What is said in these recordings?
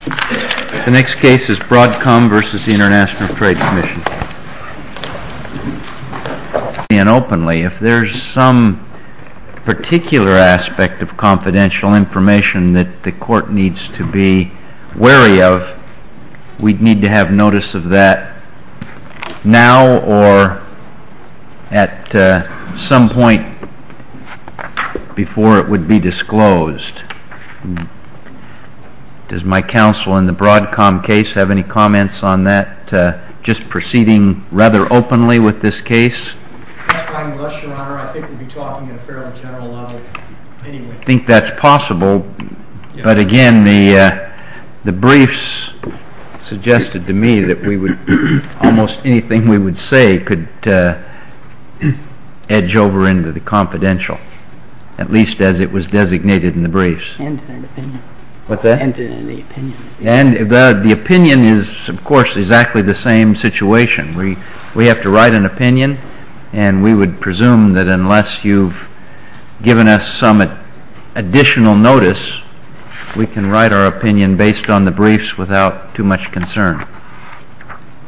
The next case is Broadcom v. International Trade Commission. If there is some particular aspect of confidential information that the court needs to be wary of, we'd need to have notice of that now or at some point before it would be disclosed. Does my counsel in the Broadcom case have any comments on that, just proceeding rather openly with this case? That's fine with us, Your Honor. I think we'd be talking at a fairly general level anyway. I think that's possible, but again, the briefs suggested to me that almost anything we would say could edge over into the confidential, at least as it was designated in the briefs. And an opinion. What's that? And an opinion. And the opinion is, of course, exactly the same situation. We have to write an opinion, and we would presume that unless you've given us some additional notice, we can write our opinion based on the briefs without too much concern.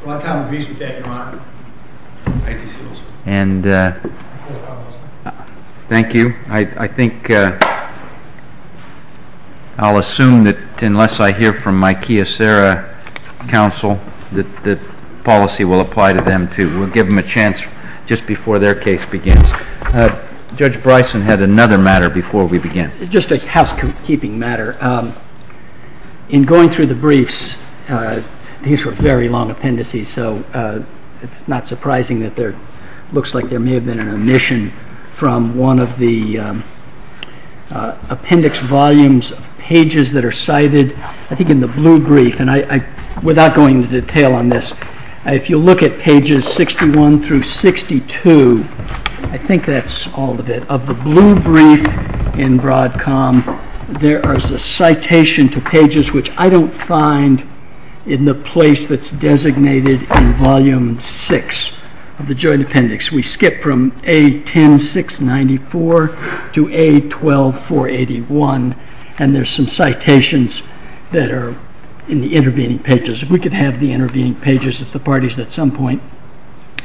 Broadcom agrees with that, Your Honor. ITC also. And thank you. I think I'll assume that unless I hear from my Kyocera counsel that the policy will apply to them too. We'll give them a chance just before their case begins. Judge Bryson had another matter before we began. Just a housekeeping matter. In going through the briefs, these were very long appendices, so it's not surprising that there looks like there may have been an omission from one of the appendix volumes, pages that are cited, I think in the blue brief, and without going into detail on this, if you look at pages 61 through 62, I think that's all of it. Of the blue brief in Broadcom, there is a citation to pages which I don't find in the place that's designated in Volume 6 of the Joint Appendix. We skip from A10694 to A12481, and there's some citations that are in the intervening pages. If we could have the intervening pages at the parties at some point,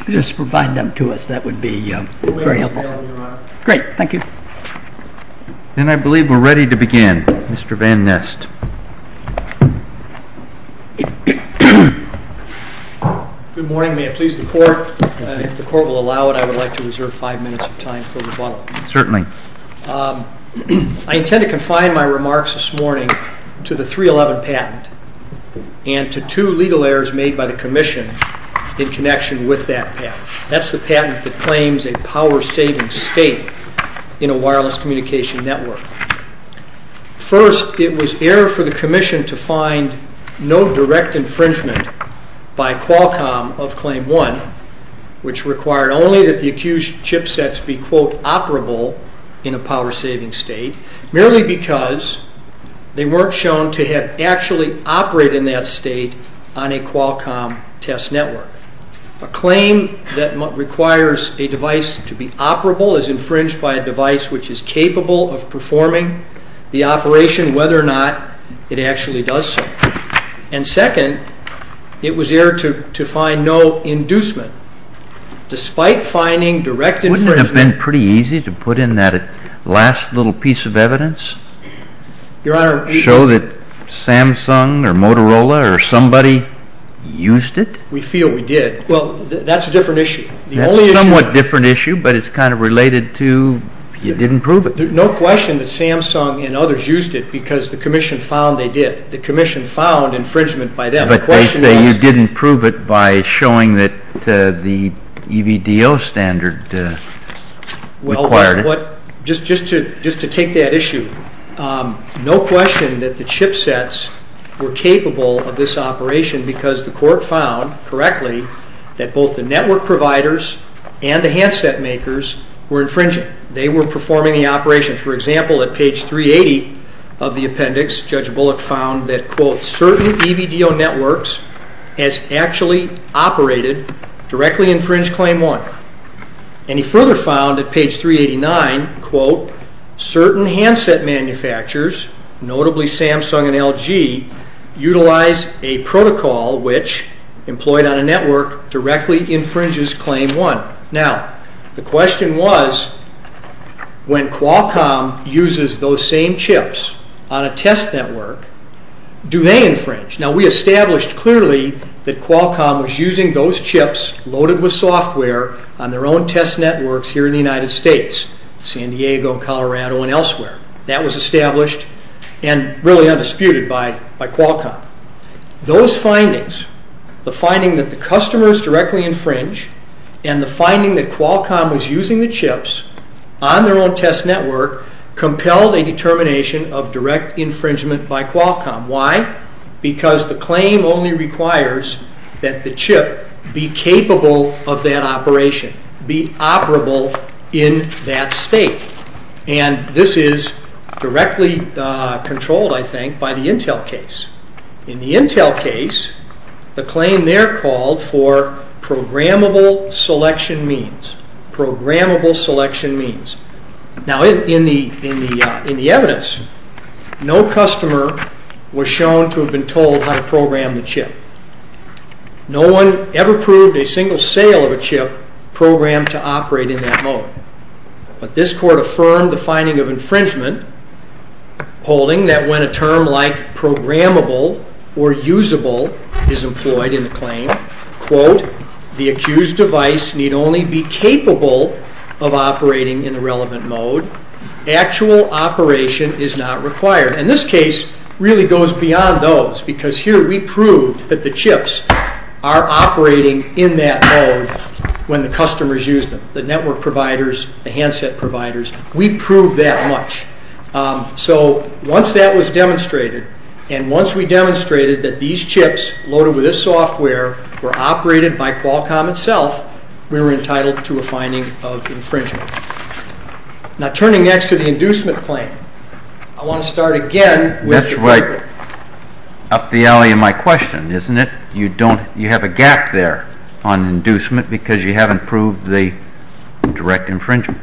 just provide them to us, that would be very helpful. Thank you, Your Honor. Great. Thank you. Then I believe we're ready to begin. Mr. Van Nest. Good morning. May it please the Court? If the Court will allow it, I would like to reserve five minutes of time for rebuttal. Certainly. I intend to confine my remarks this morning to the 311 patent and to two legal errors made by the Commission in connection with that patent. That's the patent that claims a power-saving state in a wireless communication network. First, it was error for the Commission to find no direct infringement by Qualcomm of Claim 1, which required only that the accused chipsets be, quote, operable in a power-saving state, merely because they weren't shown to have actually operated in that state on a Qualcomm test network. A claim that requires a device to be operable is infringed by a device which is capable of performing the operation whether or not it actually does so. And second, it was error to find no inducement. Despite finding direct infringement... Wouldn't it have been pretty easy to put in that last little piece of evidence? Your Honor... Show that Samsung or Motorola or somebody used it? We feel we did. Well, that's a different issue. That's a somewhat different issue, but it's kind of related to you didn't prove it. No question that Samsung and others used it because the Commission found they did. The Commission found infringement by them. But they say you didn't prove it by showing that the EVDO standard required it. Just to take that issue, no question that the chipsets were capable of this operation because the court found correctly that both the network providers and the handset makers were infringing. They were performing the operation. For example, at page 380 of the appendix, Judge Bullock found that certain EVDO networks as actually operated directly infringe Claim 1. And he further found at page 389, quote, utilize a protocol which, employed on a network, directly infringes Claim 1. Now, the question was when Qualcomm uses those same chips on a test network, do they infringe? Now, we established clearly that Qualcomm was using those chips loaded with software on their own test networks here in the United States, San Diego, Colorado, and elsewhere. That was established and really undisputed by Qualcomm. Those findings, the finding that the customers directly infringe and the finding that Qualcomm was using the chips on their own test network compelled a determination of direct infringement by Qualcomm. Why? Because the claim only requires that the chip be capable of that operation, be operable in that state. And this is directly controlled, I think, by the Intel case. In the Intel case, the claim there called for programmable selection means. Programmable selection means. Now, in the evidence, no customer was shown to have been told how to program the chip. No one ever proved a single sale of a chip programmed to operate in that mode. But this court affirmed the finding of infringement, holding that when a term like programmable or usable is employed in the claim, quote, the accused device need only be capable of operating in the relevant mode. Actual operation is not required. And this case really goes beyond those, because here we proved that the chips are operating in that mode when the customers use them, the network providers, the handset providers. We proved that much. So once that was demonstrated, and once we demonstrated that these chips loaded with this software were operated by Qualcomm itself, we were entitled to a finding of infringement. Now, turning next to the inducement claim, I want to start again with the critical. That's right up the alley in my question, isn't it? You have a gap there on inducement because you haven't proved the direct infringement.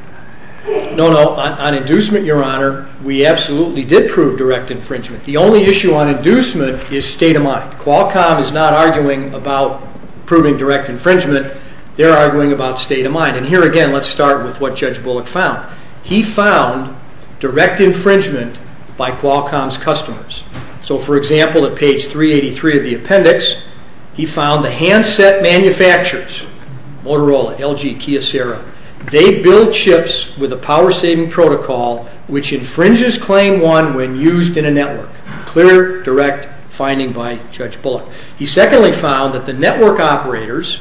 No, no. On inducement, Your Honor, we absolutely did prove direct infringement. The only issue on inducement is state of mind. Qualcomm is not arguing about proving direct infringement. They're arguing about state of mind. And here again, let's start with what Judge Bullock found. He found direct infringement by Qualcomm's customers. So, for example, at page 383 of the appendix, he found the handset manufacturers, Motorola, LG, Kyocera, they build chips with a power-saving protocol which infringes Claim 1 when used in a network. Clear, direct finding by Judge Bullock. He secondly found that the network operators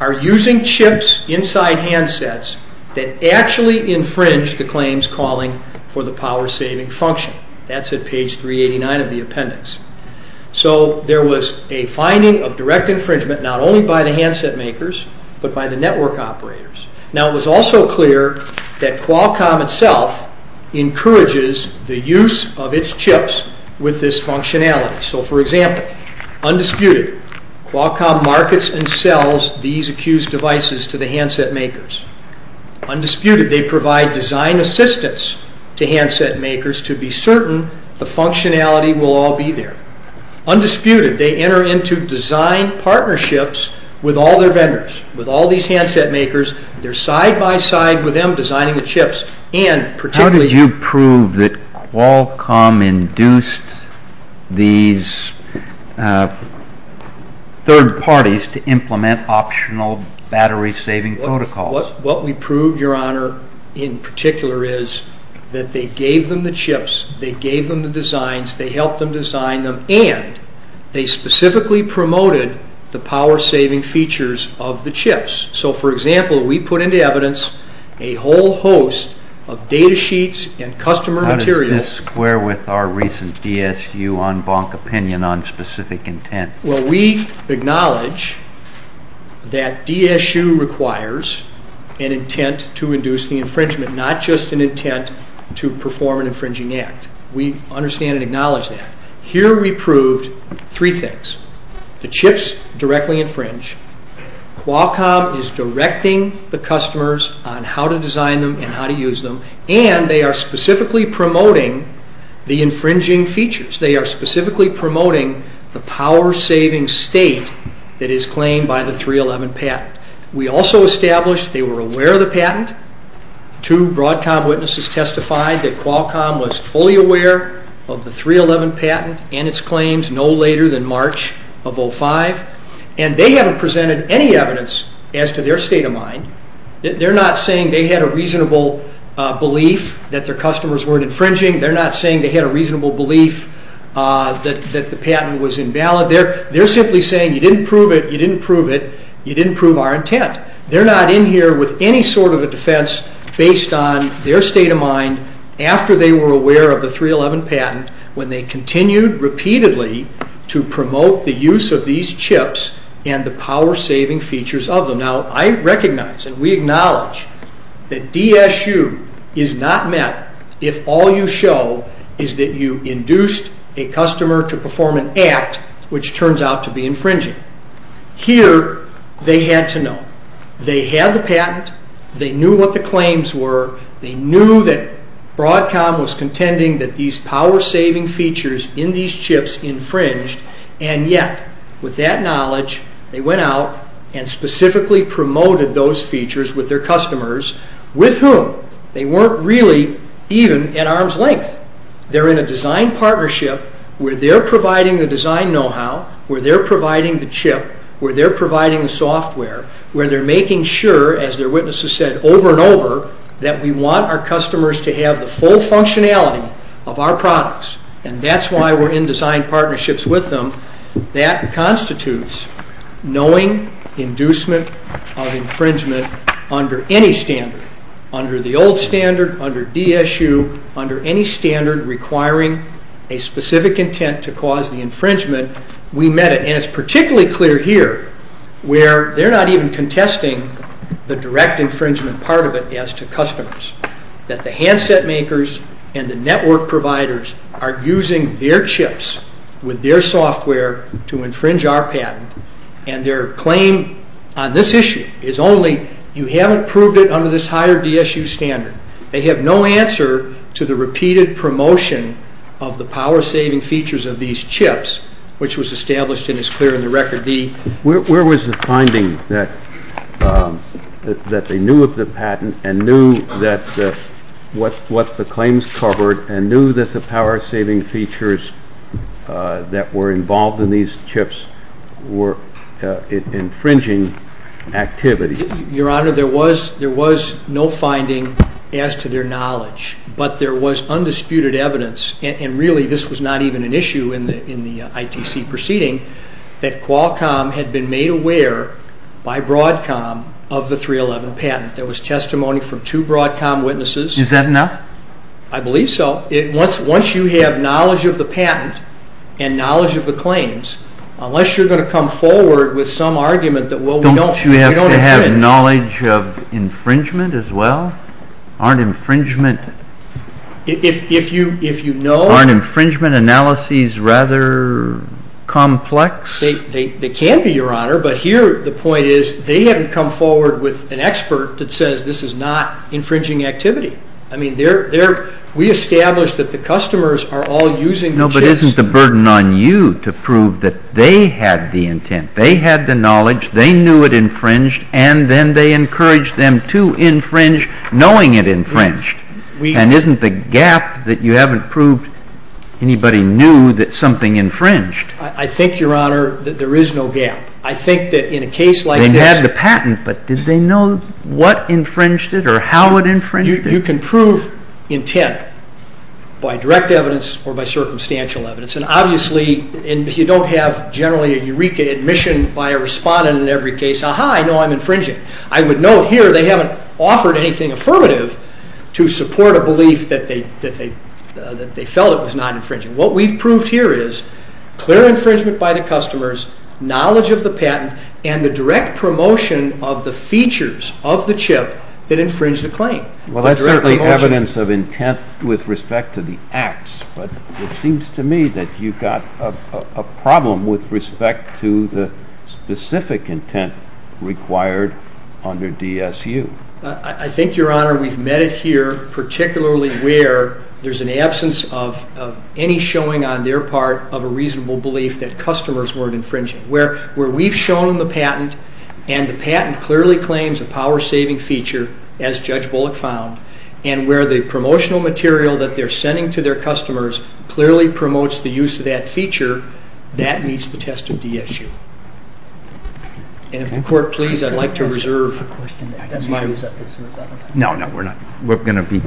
are using chips inside handsets that actually infringe the claims calling for the power-saving function. That's at page 389 of the appendix. So there was a finding of direct infringement not only by the handset makers, but by the network operators. Now, it was also clear that Qualcomm itself encourages the use of its chips with this functionality. So, for example, undisputed, Qualcomm markets and sells these accused devices to the handset makers. Undisputed, they provide design assistance to handset makers to be certain the functionality will all be there. Undisputed, they enter into design partnerships with all their vendors, with all these handset makers. They're side-by-side with them designing the chips. How did you prove that Qualcomm induced these third parties to implement optional battery-saving protocols? What we proved, Your Honor, in particular is that they gave them the chips, they gave them the designs, they helped them design them, and they specifically promoted the power-saving features of the chips. So, for example, we put into evidence a whole host of data sheets and customer material. How does this square with our recent DSU en banc opinion on specific intent? Well, we acknowledge that DSU requires an intent to induce the infringement, not just an intent to perform an infringing act. We understand and acknowledge that. Here we proved three things. The chips directly infringe. Qualcomm is directing the customers on how to design them and how to use them, and they are specifically promoting the infringing features. They are specifically promoting the power-saving state that is claimed by the 311 patent. We also established they were aware of the patent. Two Broadcom witnesses testified that Qualcomm was fully aware of the 311 patent and its claims no later than March of 2005, and they haven't presented any evidence as to their state of mind. They're not saying they had a reasonable belief that their customers weren't infringing. They're not saying they had a reasonable belief that the patent was invalid. They're simply saying you didn't prove it, you didn't prove it, you didn't prove our intent. They're not in here with any sort of a defense based on their state of mind after they were aware of the 311 patent, when they continued repeatedly to promote the use of these chips and the power-saving features of them. Now, I recognize and we acknowledge that DSU is not met if all you show is that you induced a customer to perform an act which turns out to be infringing. Here they had to know. They had the patent. They knew what the claims were. They knew that Broadcom was contending that these power-saving features in these chips infringed, and yet, with that knowledge, they went out and specifically promoted those features with their customers, with whom they weren't really even at arm's length. They're in a design partnership where they're providing the design know-how, where they're providing the chip, where they're providing the software, where they're making sure, as their witnesses said over and over, that we want our customers to have the full functionality of our products, and that's why we're in design partnerships with them. That constitutes knowing inducement of infringement under any standard, under the old standard, under DSU, under any standard requiring a specific intent to cause the infringement. We met it, and it's particularly clear here, where they're not even contesting the direct infringement part of it as to customers, that the handset makers and the network providers are using their chips with their software to infringe our patent, and their claim on this issue is only, you haven't proved it under this higher DSU standard. They have no answer to the repeated promotion of the power-saving features of these chips, which was established and is clear in the Record D. Where was the finding that they knew of the patent and knew what the claims covered and knew that the power-saving features that were involved in these chips were infringing activity? Your Honor, there was no finding as to their knowledge, but there was undisputed evidence, and really this was not even an issue in the ITC proceeding, that Qualcomm had been made aware by Broadcom of the 311 patent. There was testimony from two Broadcom witnesses. Is that enough? I believe so. Once you have knowledge of the patent and knowledge of the claims, unless you're going to come forward with some argument that, well, we don't infringe... Don't you have to have knowledge of infringement as well? Aren't infringement... Aren't infringement analyses rather complex? They can be, Your Honor, but here the point is they haven't come forward with an expert that says this is not infringing activity. I mean, we established that the customers are all using the chips... No, but isn't the burden on you to prove that they had the intent, they had the knowledge, they knew it infringed, and then they encouraged them to infringe knowing it infringed? And isn't the gap that you haven't proved anybody knew that something infringed? I think, Your Honor, that there is no gap. I think that in a case like this... They had the patent, but did they know what infringed it or how it infringed it? You can prove intent by direct evidence or by circumstantial evidence, and obviously if you don't have generally a eureka admission by a respondent in every case, aha, I know I'm infringing. I would note here they haven't offered anything affirmative to support a belief that they felt it was not infringing. What we've proved here is clear infringement by the customers, knowledge of the patent, and the direct promotion of the features of the chip that infringe the claim. Well, that's certainly evidence of intent with respect to the acts, but it seems to me that you've got a problem with respect to the specific intent required under DSU. I think, Your Honor, we've met it here, particularly where there's an absence of any showing on their part of a reasonable belief that customers weren't infringing. Where we've shown the patent, and the patent clearly claims a power-saving feature, as Judge Bullock found, and where the promotional material that they're sending to their customers clearly promotes the use of that feature, that meets the test of DSU. And if the Court please, I'd like to reserve my time. No, no, we're going to be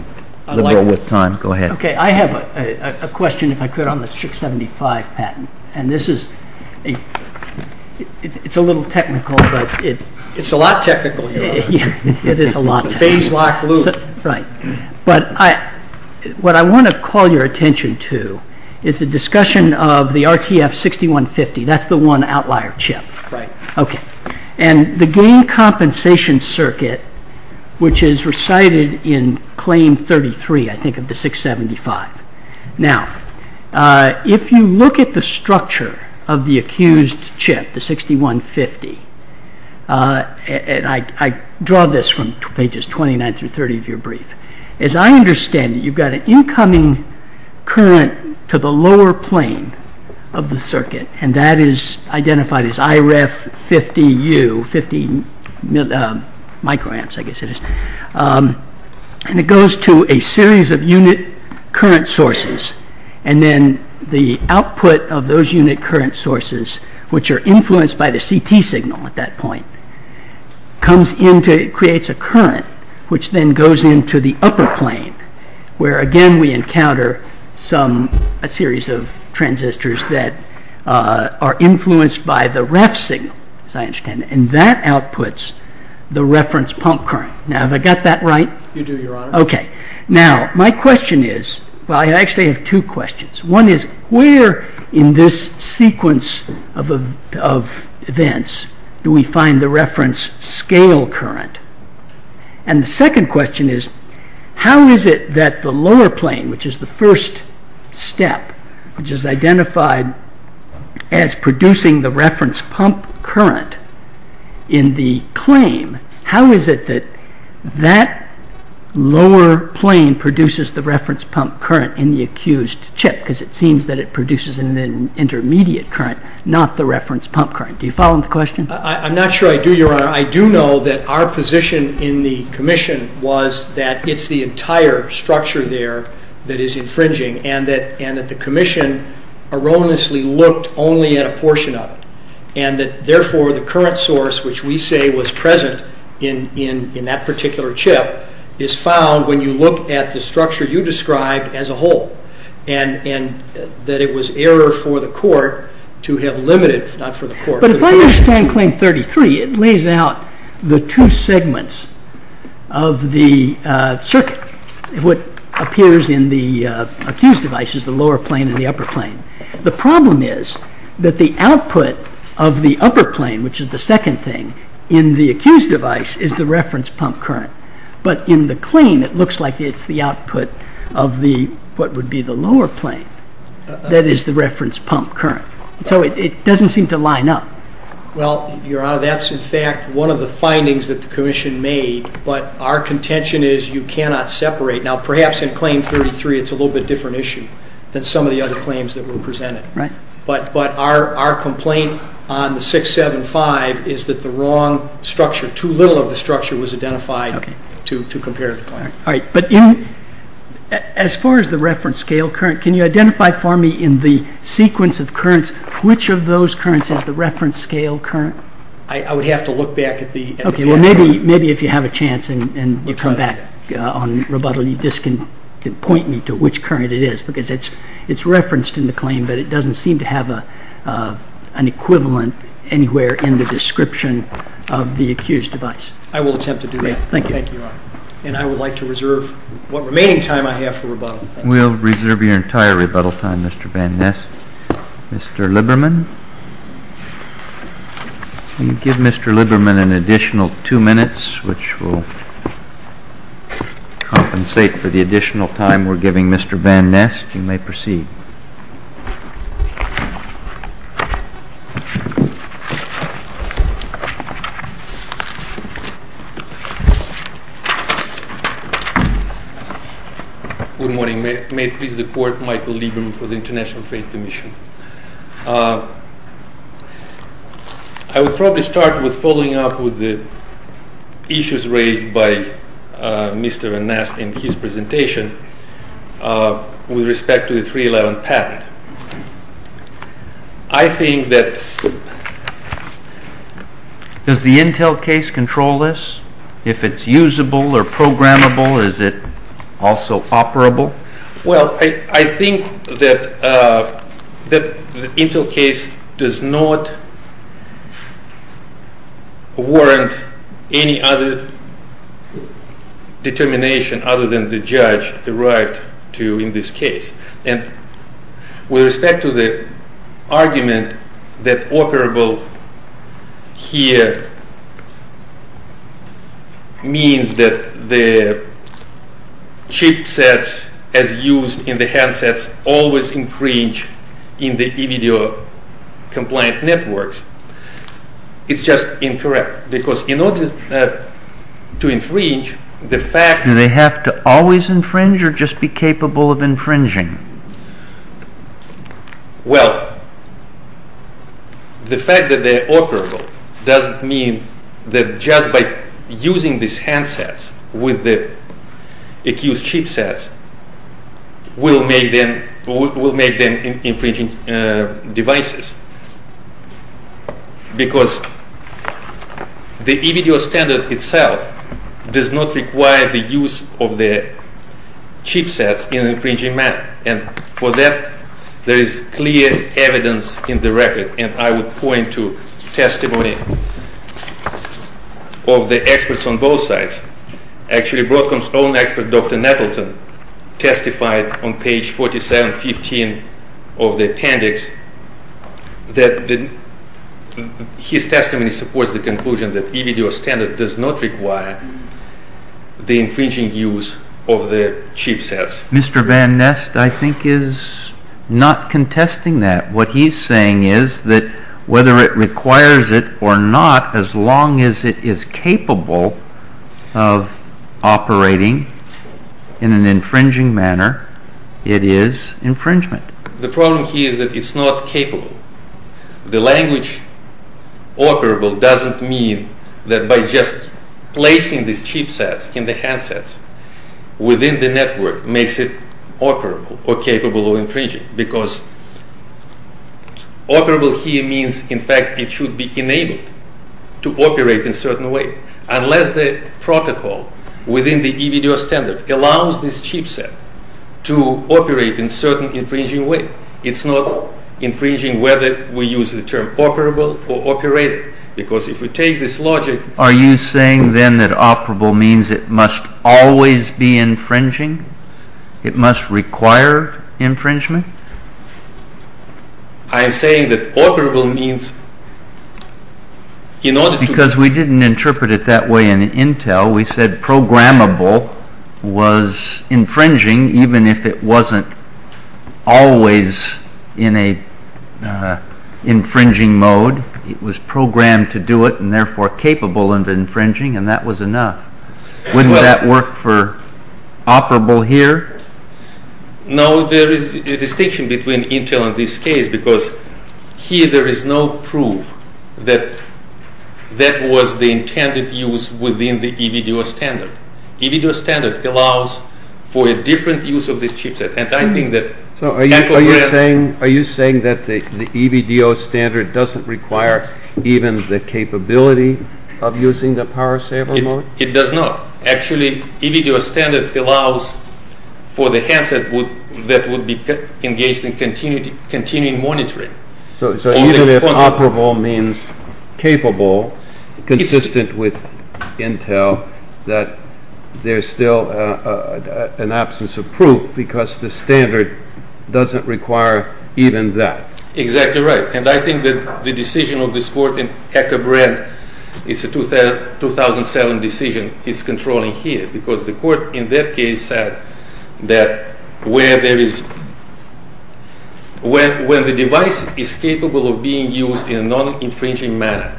liberal with time. Go ahead. Okay, I have a question, if I could, on the 675 patent, and this is a little technical, but it's a lot technical, Your Honor. It is a lot technical. The phase-locked loop. Right. But what I want to call your attention to is the discussion of the RTF6150. That's the one outlier chip. Right. Okay. And the gain compensation circuit, which is recited in Claim 33, I think, of the 675. Now, if you look at the structure of the accused chip, the 6150, and I draw this from pages 29 through 30 of your brief. As I understand it, you've got an incoming current to the lower plane of the circuit, and that is identified as IREF50U, 50 microamps, I guess it is. And it goes to a series of unit current sources, and then the output of those unit current sources, which are influenced by the CT signal at that point, creates a current which then goes into the upper plane, where again we encounter a series of transistors that are influenced by the REF signal, as I understand it, and that outputs the reference pump current. Now, have I got that right? You do, Your Honor. Okay. Now, my question is, well, I actually have two questions. One is, where in this sequence of events do we find the reference scale current? And the second question is, how is it that the lower plane, which is the first step, which is identified as producing the reference pump current in the claim, how is it that that lower plane produces the reference pump current in the accused chip? Because it seems that it produces an intermediate current, not the reference pump current. Do you follow the question? I'm not sure I do, Your Honor. I do know that our position in the commission was that it's the entire structure there that is infringing, and that the commission erroneously looked only at a portion of it, and that therefore the current source, which we say was present in that particular chip, is found when you look at the structure you described as a whole. And that it was error for the court to have limited, not for the court. But if I understand claim 33, it lays out the two segments of the circuit. What appears in the accused device is the lower plane and the upper plane. The problem is that the output of the upper plane, which is the second thing, in the accused device is the reference pump current. But in the claim it looks like it's the output of what would be the lower plane, that is the reference pump current. So it doesn't seem to line up. Well, Your Honor, that's in fact one of the findings that the commission made, but our contention is you cannot separate. Now perhaps in claim 33 it's a little bit different issue than some of the other claims that were presented. But our complaint on the 675 is that the wrong structure, too little of the structure was identified to compare to the claim. All right, but as far as the reference scale current, can you identify for me in the sequence of currents, which of those currents is the reference scale current? I would have to look back at the past. Okay, well, maybe if you have a chance and you come back on rebuttal, you just can point me to which current it is, because it's referenced in the claim, but it doesn't seem to have an equivalent anywhere in the description of the accused device. I will attempt to do that. Thank you, Your Honor. And I would like to reserve what remaining time I have for rebuttal. We'll reserve your entire rebuttal time, Mr. Van Ness. Mr. Liberman? You give Mr. Liberman an additional two minutes, which will compensate for the additional time we're giving Mr. Van Ness. You may proceed. Good morning. May it please the Court, Michael Liberman for the International Faith Commission. I will probably start with following up with the issues raised by Mr. Van Ness in his presentation. With respect to the 311 patent, I think that... Does the Intel case control this? If it's usable or programmable, is it also operable? Well, I think that the Intel case does not warrant any other determination other than the judge derived to in this case. With respect to the argument that operable here means that the chipsets as used in the handsets always infringe in the e-video compliant networks, it's just incorrect. Because in order to infringe, the fact... Well, the fact that they're operable doesn't mean that just by using these handsets with the accused chipsets will make them infringing devices. Because the e-video standard itself does not require the use of the chipsets in an infringing manner. And for that, there is clear evidence in the record. And I would point to testimony of the experts on both sides. Actually, Broadcom's own expert, Dr. Nettleton, testified on page 4715 of the appendix that his testimony supports the conclusion that e-video standard does not require the infringing use of the chipsets. Mr. Van Nest, I think, is not contesting that. What he's saying is that whether it requires it or not, as long as it is capable of operating in an infringing manner, it is infringement. The problem here is that it's not capable. The language operable doesn't mean that by just placing these chipsets in the handsets within the network makes it operable or capable of infringing. Because operable here means, in fact, it should be enabled to operate in a certain way. Unless the protocol within the e-video standard allows this chipset to operate in a certain infringing way, it's not infringing whether we use the term operable or operated. Because if we take this logic... Are you saying then that operable means it must always be infringing? It must require infringement? I am saying that operable means in order to... Because we didn't interpret it that way in Intel. We said programmable was infringing even if it wasn't always in an infringing mode. It was programmed to do it and therefore capable of infringing and that was enough. Wouldn't that work for operable here? No, there is a distinction between Intel and this case because here there is no proof that that was the intended use within the e-video standard. E-video standard allows for a different use of this chipset and I think that... So are you saying that the e-video standard doesn't require even the capability of using the power saver mode? It does not. Actually, e-video standard allows for the handset that would be engaged in continuing monitoring. So even if operable means capable, consistent with Intel, that there is still an absence of proof because the standard doesn't require even that. Exactly right. And I think that the decision of this court in Eckerbrand, it's a 2007 decision, is controlling here because the court in that case said that where there is... When the device is capable of being used in a non-infringing manner,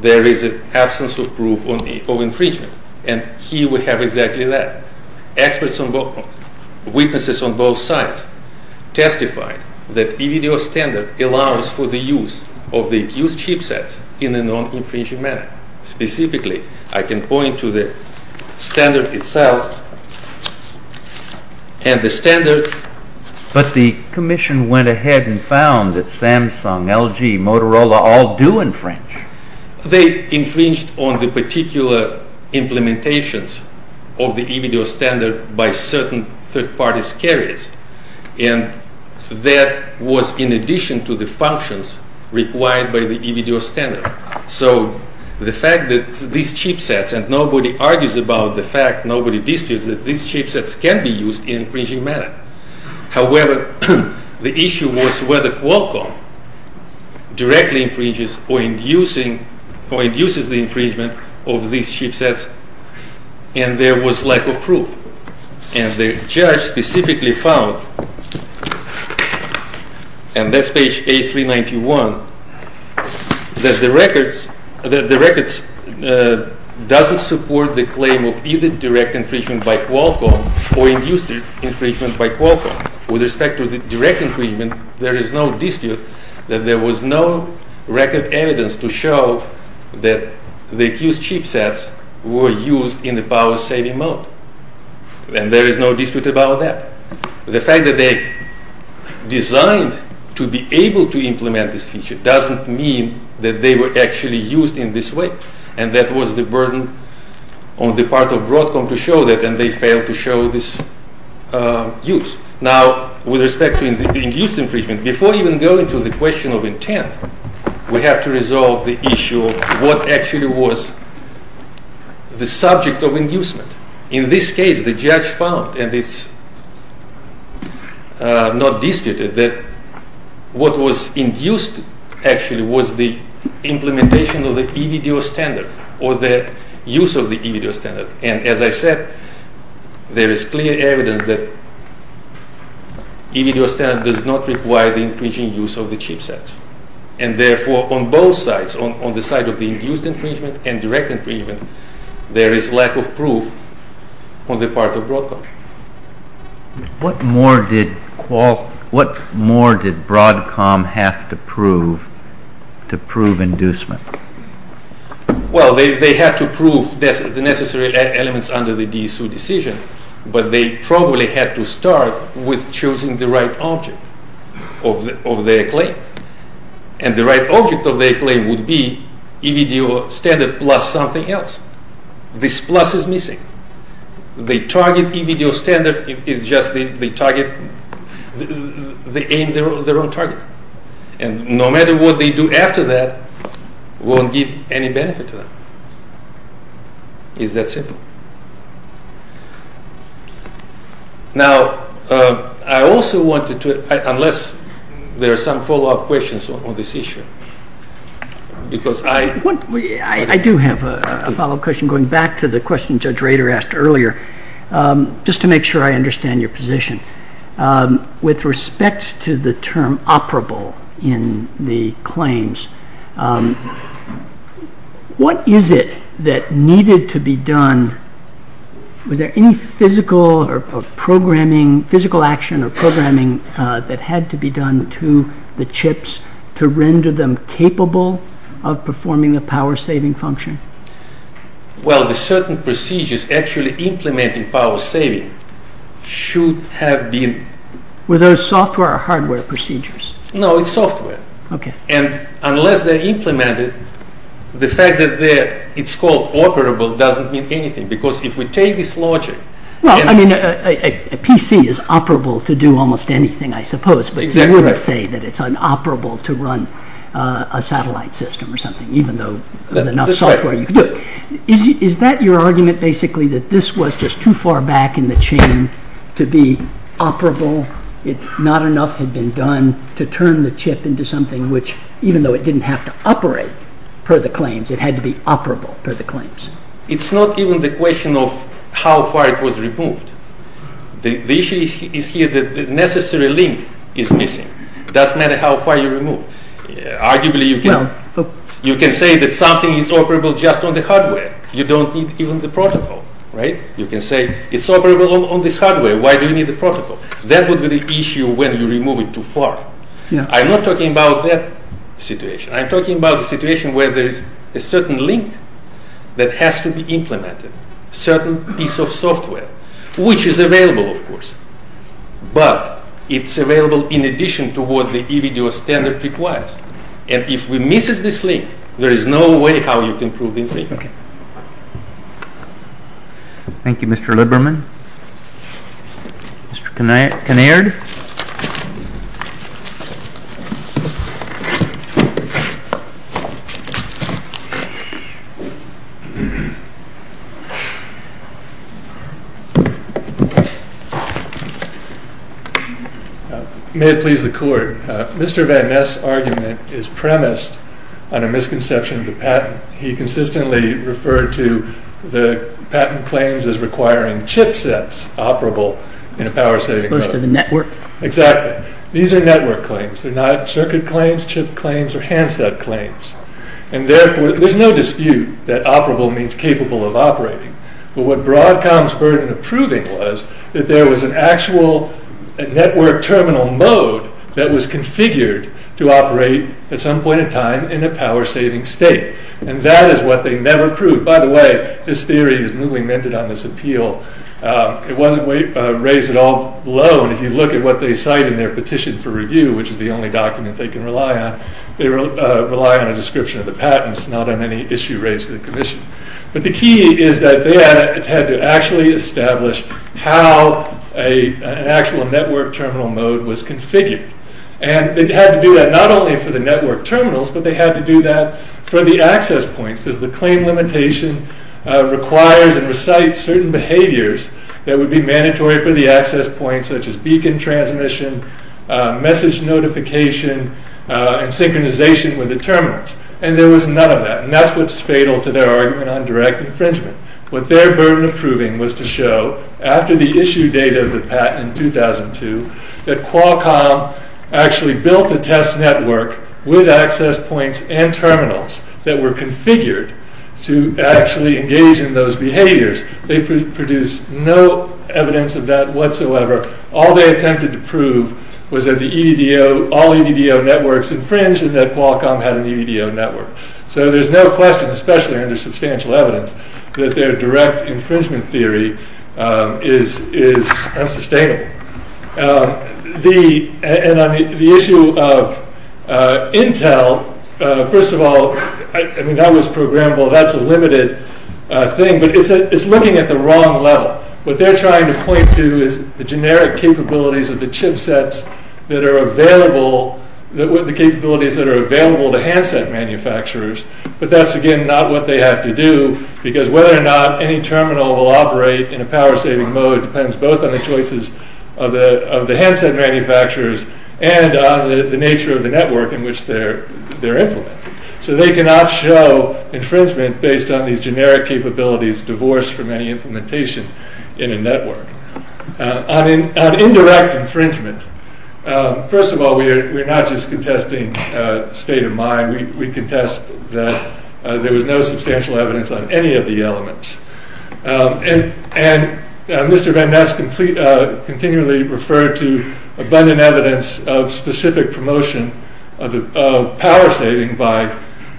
there is an absence of proof of infringement and here we have exactly that. Experts and witnesses on both sides testified that e-video standard allows for the use of the accused chipsets in a non-infringing manner. Specifically, I can point to the standard itself and the standard... They infringed on the particular implementations of the e-video standard by certain third-party carriers and that was in addition to the functions required by the e-video standard. So the fact that these chipsets, and nobody argues about the fact, nobody disputes, that these chipsets can be used in an infringing manner. However, the issue was whether Qualcomm directly infringes or induces the infringement of these chipsets and there was lack of proof. And the judge specifically found, and that's page 8391, that the records doesn't support the claim of either direct infringement by Qualcomm or induced infringement by Qualcomm. With respect to the direct infringement, there is no dispute that there was no record evidence to show that the accused chipsets were used in a power-saving mode. And there is no dispute about that. The fact that they designed to be able to implement this feature doesn't mean that they were actually used in this way and that was the burden on the part of Broadcom to show that and they failed to show this use. Now, with respect to induced infringement, before even going to the question of intent, we have to resolve the issue of what actually was the subject of inducement. In this case, the judge found, and it's not disputed, that what was induced actually was the implementation of the EBDO standard or the use of the EBDO standard. And as I said, there is clear evidence that EBDO standard does not require the infringing use of the chipsets. And therefore, on both sides, on the side of the induced infringement and direct infringement, there is lack of proof on the part of Broadcom. What more did Broadcom have to prove to prove inducement? Well, they had to prove the necessary elements under the DSU decision, but they probably had to start with choosing the right object of their claim. And the right object of their claim would be EBDO standard plus something else. This plus is missing. They target EBDO standard, it's just they aim their own target. And no matter what they do after that, it won't give any benefit to them. It's that simple. Now, I also wanted to, unless there are some follow-up questions on this issue, because I... Peter asked earlier, just to make sure I understand your position. With respect to the term operable in the claims, what is it that needed to be done? Was there any physical or programming, physical action or programming that had to be done to the chips to render them capable of performing the power saving function? Well, the certain procedures actually implementing power saving should have been... Were those software or hardware procedures? No, it's software. And unless they implement it, the fact that it's called operable doesn't mean anything, because if we take this logic... Well, I mean, a PC is operable to do almost anything, I suppose, but you wouldn't say that it's unoperable to run a satellite system or something, even though there's enough software you could do it. Is that your argument, basically, that this was just too far back in the chain to be operable? Not enough had been done to turn the chip into something which, even though it didn't have to operate per the claims, it had to be operable per the claims? It's not even the question of how far it was removed. The issue is here that the necessary link is missing. It doesn't matter how far you remove. Arguably, you can say that something is operable just on the hardware. You don't need even the protocol, right? You can say, it's operable on this hardware. Why do you need the protocol? That would be the issue when you remove it too far. I'm not talking about that situation. I'm talking about the situation where there is a certain link that has to be implemented, certain piece of software, which is available, of course, but it's available in addition to what the EVDO standard requires. And if we miss this link, there is no way how you can prove this link. Thank you, Mr. Liberman. Mr. Kinnaird? May it please the Court. Mr. Van Ness' argument is premised on a misconception of the patent. He consistently referred to the patent claims as requiring chipsets operable in a power-saving mode. As opposed to the network? Exactly. These are network claims. They're not circuit claims, chip claims, or handset claims. And therefore, there's no dispute that operable means capable of operating. But what Broadcom spurred in approving was that there was an actual network terminal mode that was configured to operate at some point in time in a power-saving state. And that is what they never proved. By the way, this theory is newly minted on this appeal. It wasn't raised at all below. And if you look at what they cite in their petition for review, which is the only document they can rely on, they rely on a description of the patents, not on any issue raised to the Commission. But the key is that they had to actually establish how an actual network terminal mode was configured. And they had to do that not only for the network terminals, but they had to do that for the access points, because the claim limitation requires and recites certain behaviors that would be mandatory for the access points, such as beacon transmission, message notification, and synchronization with the terminals. And there was none of that. And that's what's fatal to their argument on direct infringement. What their burden of proving was to show, after the issue date of the patent in 2002, that Qualcomm actually built a test network with access points and terminals that were configured to actually engage in those behaviors. They produced no evidence of that whatsoever. All they attempted to prove was that all EDDO networks infringed and that Qualcomm had an EDDO network. So there's no question, especially under substantial evidence, that their direct infringement theory is unsustainable. And on the issue of Intel, first of all, I mean, that was programmable. That's a limited thing. But it's looking at the wrong level. What they're trying to point to is the generic capabilities of the chipsets that are available, the capabilities that are available to handset manufacturers. But that's, again, not what they have to do, because whether or not any terminal will operate in a power-saving mode depends both on the choices of the handset manufacturers and on the nature of the network in which they're implemented. So they cannot show infringement based on these generic capabilities divorced from any implementation in a network. On indirect infringement, first of all, we're not just contesting state of mind. We contest that there was no substantial evidence on any of the elements. And Mr. Van Ness continually referred to abundant evidence of specific promotion of power-saving by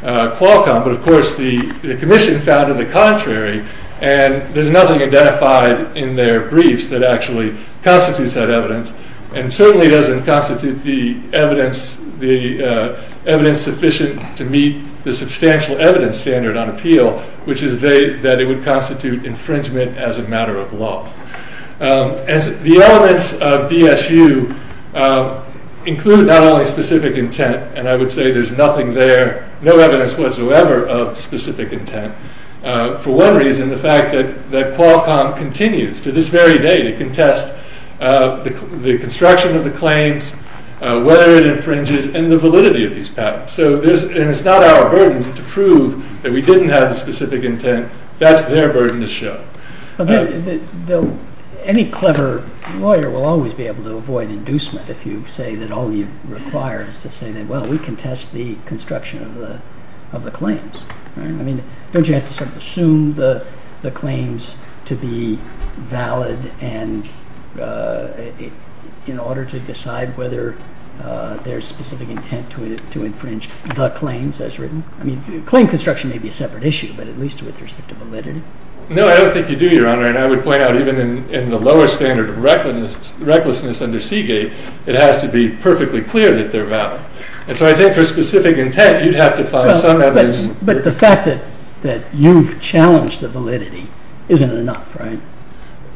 Qualcomm. But, of course, the commission found it the contrary. And there's nothing identified in their briefs that actually constitutes that evidence and certainly doesn't constitute the evidence sufficient to meet the substantial evidence standard on appeal, which is that it would constitute infringement as a matter of law. And the elements of DSU include not only specific intent, and I would say there's nothing there, no evidence whatsoever of specific intent. For one reason, the fact that Qualcomm continues to this very day to contest the construction of the claims, whether it infringes, and the validity of these patents. And it's not our burden to prove that we didn't have the specific intent. That's their burden to show. Any clever lawyer will always be able to avoid inducement if you say that all you require is to say that, well, we contest the construction of the claims. I mean, don't you have to sort of assume the claims to be valid in order to decide whether there's specific intent to infringe the claims as written? I mean, claim construction may be a separate issue, but at least with respect to validity. No, I don't think you do, Your Honor. And I would point out even in the lower standard of recklessness under Seagate, it has to be perfectly clear that they're valid. And so I think for specific intent, you'd have to find some evidence. But the fact that you've challenged the validity isn't enough, right?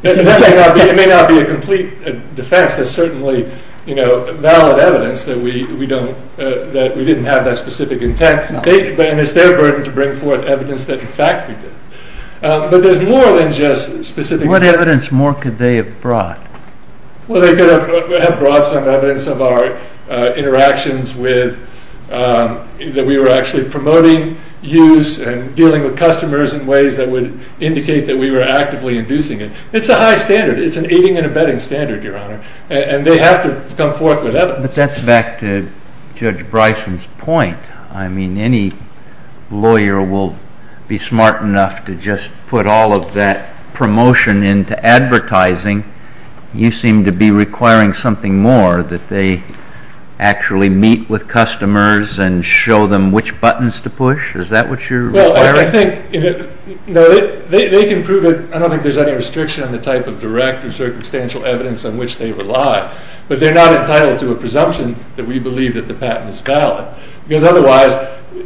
It may not be a complete defense. There's certainly valid evidence that we didn't have that specific intent. And it's their burden to bring forth evidence that, in fact, we did. But there's more than just specific intent. What evidence more could they have brought? Well, they could have brought some evidence of our interactions with, that we were actually promoting use and dealing with customers in ways that would indicate that we were actively inducing it. It's a high standard. It's an eating and abetting standard, Your Honor. And they have to come forth with evidence. But that's back to Judge Bryson's point. I mean, any lawyer will be smart enough to just put all of that promotion into advertising. You seem to be requiring something more, that they actually meet with customers and show them which buttons to push. Is that what you're requiring? Well, I think they can prove it. I don't think there's any restriction on the type of direct and circumstantial evidence on which they rely. But they're not entitled to a presumption that we believe that the patent is valid. Because otherwise,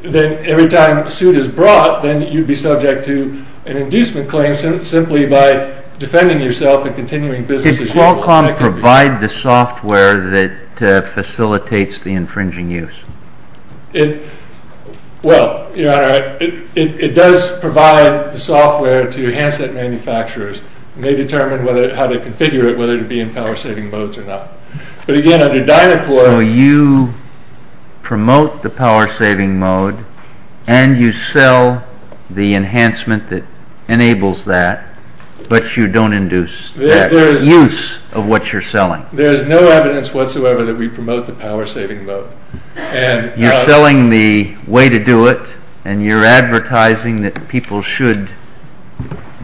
then every time a suit is brought, then you'd be subject to an inducement claim simply by defending yourself and continuing business as usual. Did Qualcomm provide the software that facilitates the infringing use? Well, Your Honor, it does provide the software to handset manufacturers. And they determine how to configure it, whether to be in power-saving modes or not. But again, under Dynacore... So you promote the power-saving mode, and you sell the enhancement that enables that, but you don't induce that use of what you're selling. There's no evidence whatsoever that we promote the power-saving mode. You're selling the way to do it, and you're advertising that people should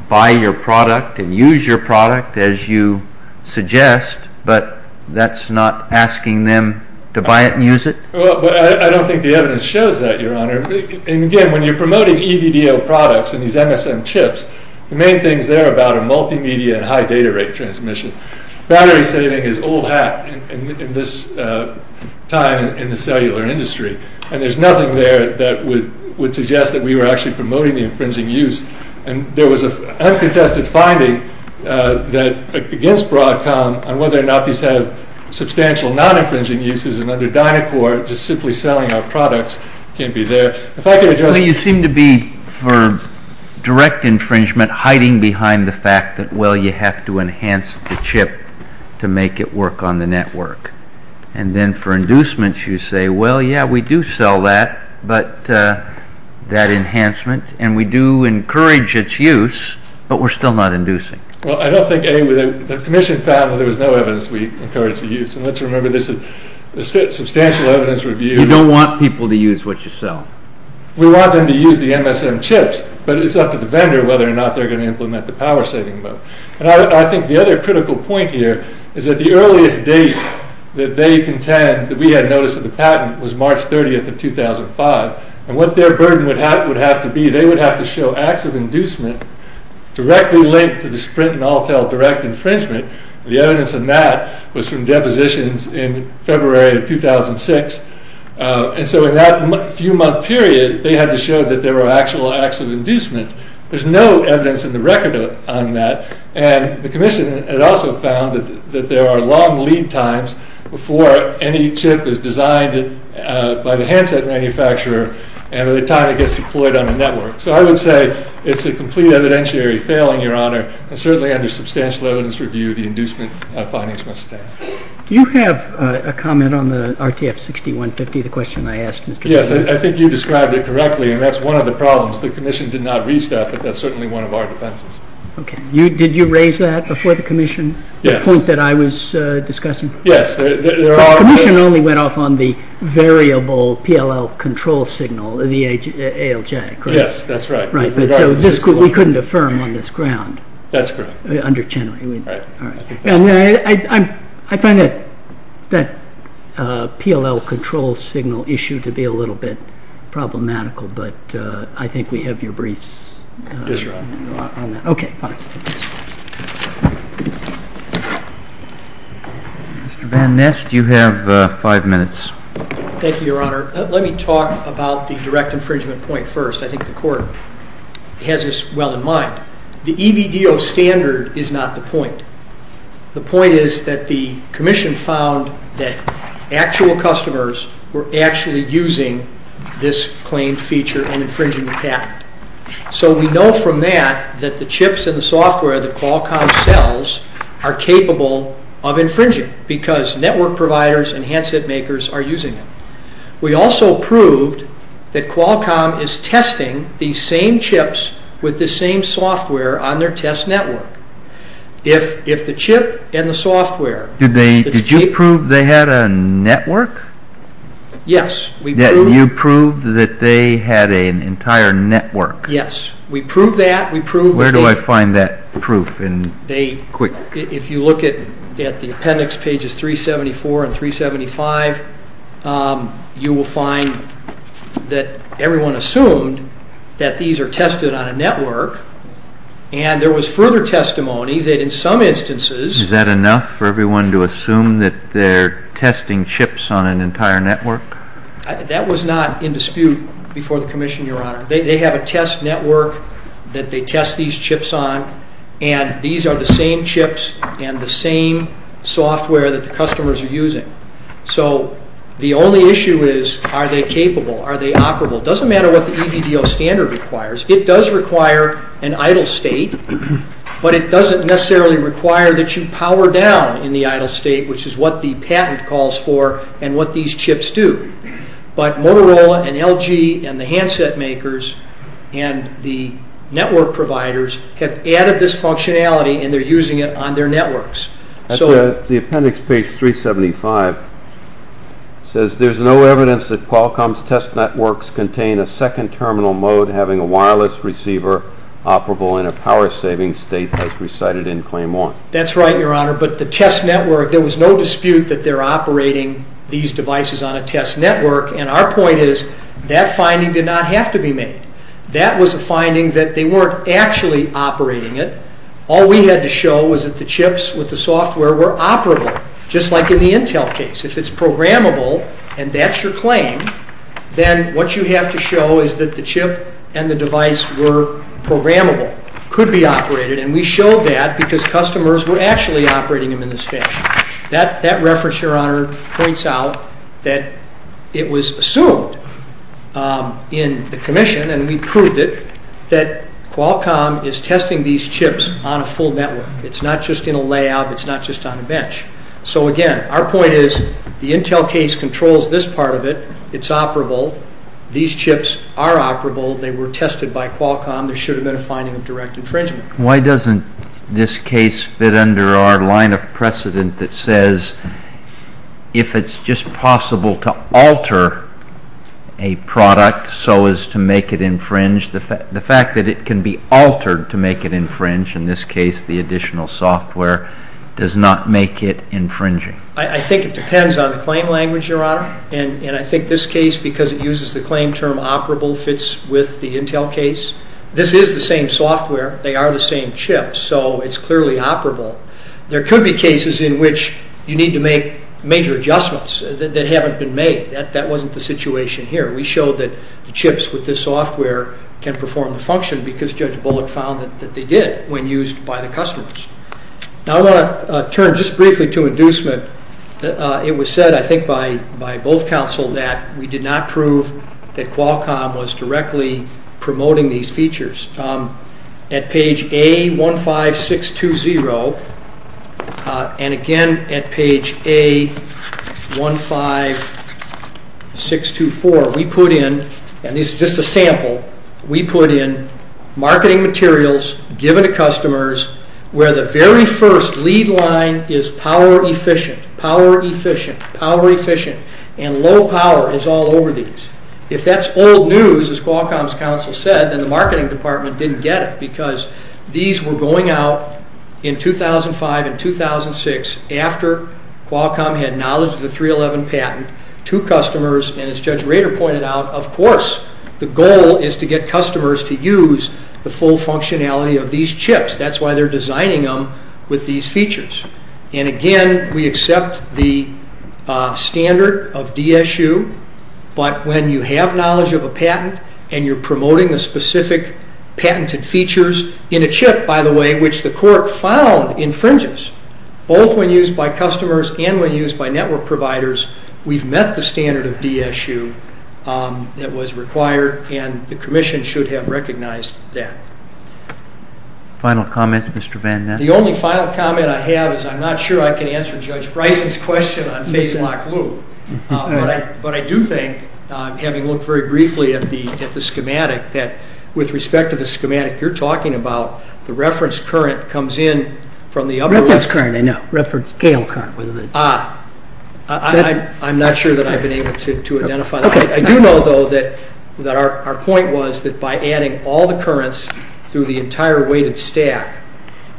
buy your product and use your product as you suggest, but that's not asking them to buy it and use it? Well, I don't think the evidence shows that, Your Honor. And again, when you're promoting EDDO products and these MSM chips, the main things there are about a multimedia and high data rate transmission. Battery saving is old hat in this time in the cellular industry, and there's nothing there that would suggest that we were actually promoting the infringing use. And there was an uncontested finding against Broadcom on whether or not these have substantial non-infringing uses, and under Dynacore, just simply selling our products can't be there. If I could address... You seem to be, for direct infringement, hiding behind the fact that, well, you have to enhance the chip to make it work on the network. And then for inducements, you say, well, yeah, we do sell that, but that enhancement, and we do encourage its use, but we're still not inducing. Well, I don't think any... The Commission found that there was no evidence we encouraged the use, and let's remember this is a substantial evidence review. You don't want people to use what you sell? We want them to use the MSM chips, but it's up to the vendor whether or not they're going to implement the power-saving mode. And I think the other critical point here is that the earliest date that they contend that we had notice of the patent was March 30th of 2005, and what their burden would have to be, they would have to show acts of inducement directly linked to the Sprint and Altel direct infringement. The evidence of that was from depositions in February of 2006. And so in that few-month period, they had to show that there were actual acts of inducement. There's no evidence in the record on that, and the Commission had also found that there are long lead times before any chip is designed by the handset manufacturer, and by the time it gets deployed on a network. So I would say it's a complete evidentiary failing, Your Honor, and certainly under substantial evidence review, the inducement findings must stand. Do you have a comment on the RTF 60-150, the question I asked Mr. Jones? Yes, I think you described it correctly, and that's one of the problems. The Commission did not reach that, but that's certainly one of our defenses. Okay. Did you raise that before the Commission? Yes. The point that I was discussing? Yes. The Commission only went off on the variable PLL control signal, the ALJ, correct? Yes, that's right. Right, so we couldn't affirm on this ground. That's correct. Under Chenoweth. Right. I find that PLL control signal issue to be a little bit problematical, but I think we have your briefs on that. Okay, fine. Mr. Van Nest, you have five minutes. Thank you, Your Honor. Let me talk about the direct infringement point first. I think the Court has this well in mind. The EVDO standard is not the point. The point is that the Commission found that actual customers were actually using this claimed feature and infringing the patent. So we know from that that the chips and the software that Qualcomm sells are capable of infringing because network providers and handset makers are using them. We also proved that Qualcomm is testing these same chips with the same software on their test network. If the chip and the software... Did you prove they had a network? Yes, we proved... You proved that they had an entire network. Yes, we proved that. Where do I find that proof? If you look at the appendix pages 374 and 375, you will find that everyone assumed that these are tested on a network and there was further testimony that in some instances... Is that enough for everyone to assume that they're testing chips on an entire network? That was not in dispute before the Commission, Your Honor. They have a test network that they test these chips on and these are the same chips and the same software that the customers are using. So the only issue is are they capable? Are they operable? It doesn't matter what the EVDO standard requires. It does require an idle state, but it doesn't necessarily require that you power down in the idle state, which is what the patent calls for and what these chips do. But Motorola and LG and the handset makers and the network providers have added this functionality and they're using it on their networks. The appendix page 375 says, There's no evidence that Qualcomm's test networks contain a second terminal mode having a wireless receiver operable in a power-saving state as recited in Claim 1. That's right, Your Honor, but the test network... There was no dispute that they're operating these devices on a test network and our point is that finding did not have to be made. That was a finding that they weren't actually operating it. All we had to show was that the chips with the software were operable, just like in the Intel case. If it's programmable and that's your claim, then what you have to show is that the chip and the device were programmable, could be operated, and we showed that because customers were actually operating them in this fashion. That reference, Your Honor, points out that it was assumed in the commission and we proved it, that Qualcomm is testing these chips on a full network. It's not just in a layout. It's not just on a bench. So again, our point is the Intel case controls this part of it. It's operable. These chips are operable. They were tested by Qualcomm. There should have been a finding of direct infringement. Why doesn't this case fit under our line of precedent that says if it's just possible to alter a product so as to make it infringe, the fact that it can be altered to make it infringe, in this case the additional software, does not make it infringing? I think it depends on the claim language, Your Honor. I think this case, because it uses the claim term operable, fits with the Intel case. This is the same software. They are the same chips. So it's clearly operable. There could be cases in which you need to make major adjustments that haven't been made. That wasn't the situation here. We showed that the chips with this software can perform the function because Judge Bullock found that they did when used by the customers. Now I want to turn just briefly to inducement. It was said, I think, by both counsel that we did not prove that Qualcomm was directly promoting these features. At page A15620 and again at page A15624, we put in, and this is just a sample, we put in marketing materials given to customers where the very first lead line is power efficient, power efficient, power efficient, and low power is all over these. If that's old news, as Qualcomm's counsel said, then the marketing department didn't get it, because these were going out in 2005 and 2006 after Qualcomm had knowledge of the 311 patent to customers, and as Judge Rader pointed out, of course, the goal is to get customers to use the full functionality of these chips. That's why they're designing them with these features. And again, we accept the standard of DSU, but when you have knowledge of a patent and you're promoting the specific patented features in a chip, by the way, which the court found infringes, both when used by customers and when used by network providers, we've met the standard of DSU that was required and the Commission should have recognized that. Final comments, Mr. Van Ness? The only final comment I have is I'm not sure I can answer Judge Bryson's question on phase lock loop, but I do think, having looked very briefly at the schematic, that with respect to the schematic you're talking about, the reference current comes in from the upper left. Reference current, I know. Reference scale current. I'm not sure that I've been able to identify that. I do know, though, that our point was that by adding all the currents through the entire weighted stack,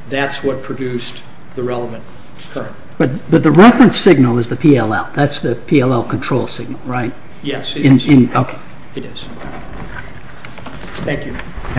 that's what produced the relevant current. But the reference signal is the PLL. That's the PLL control signal, right? Yes, it is. Okay. It is. Thank you.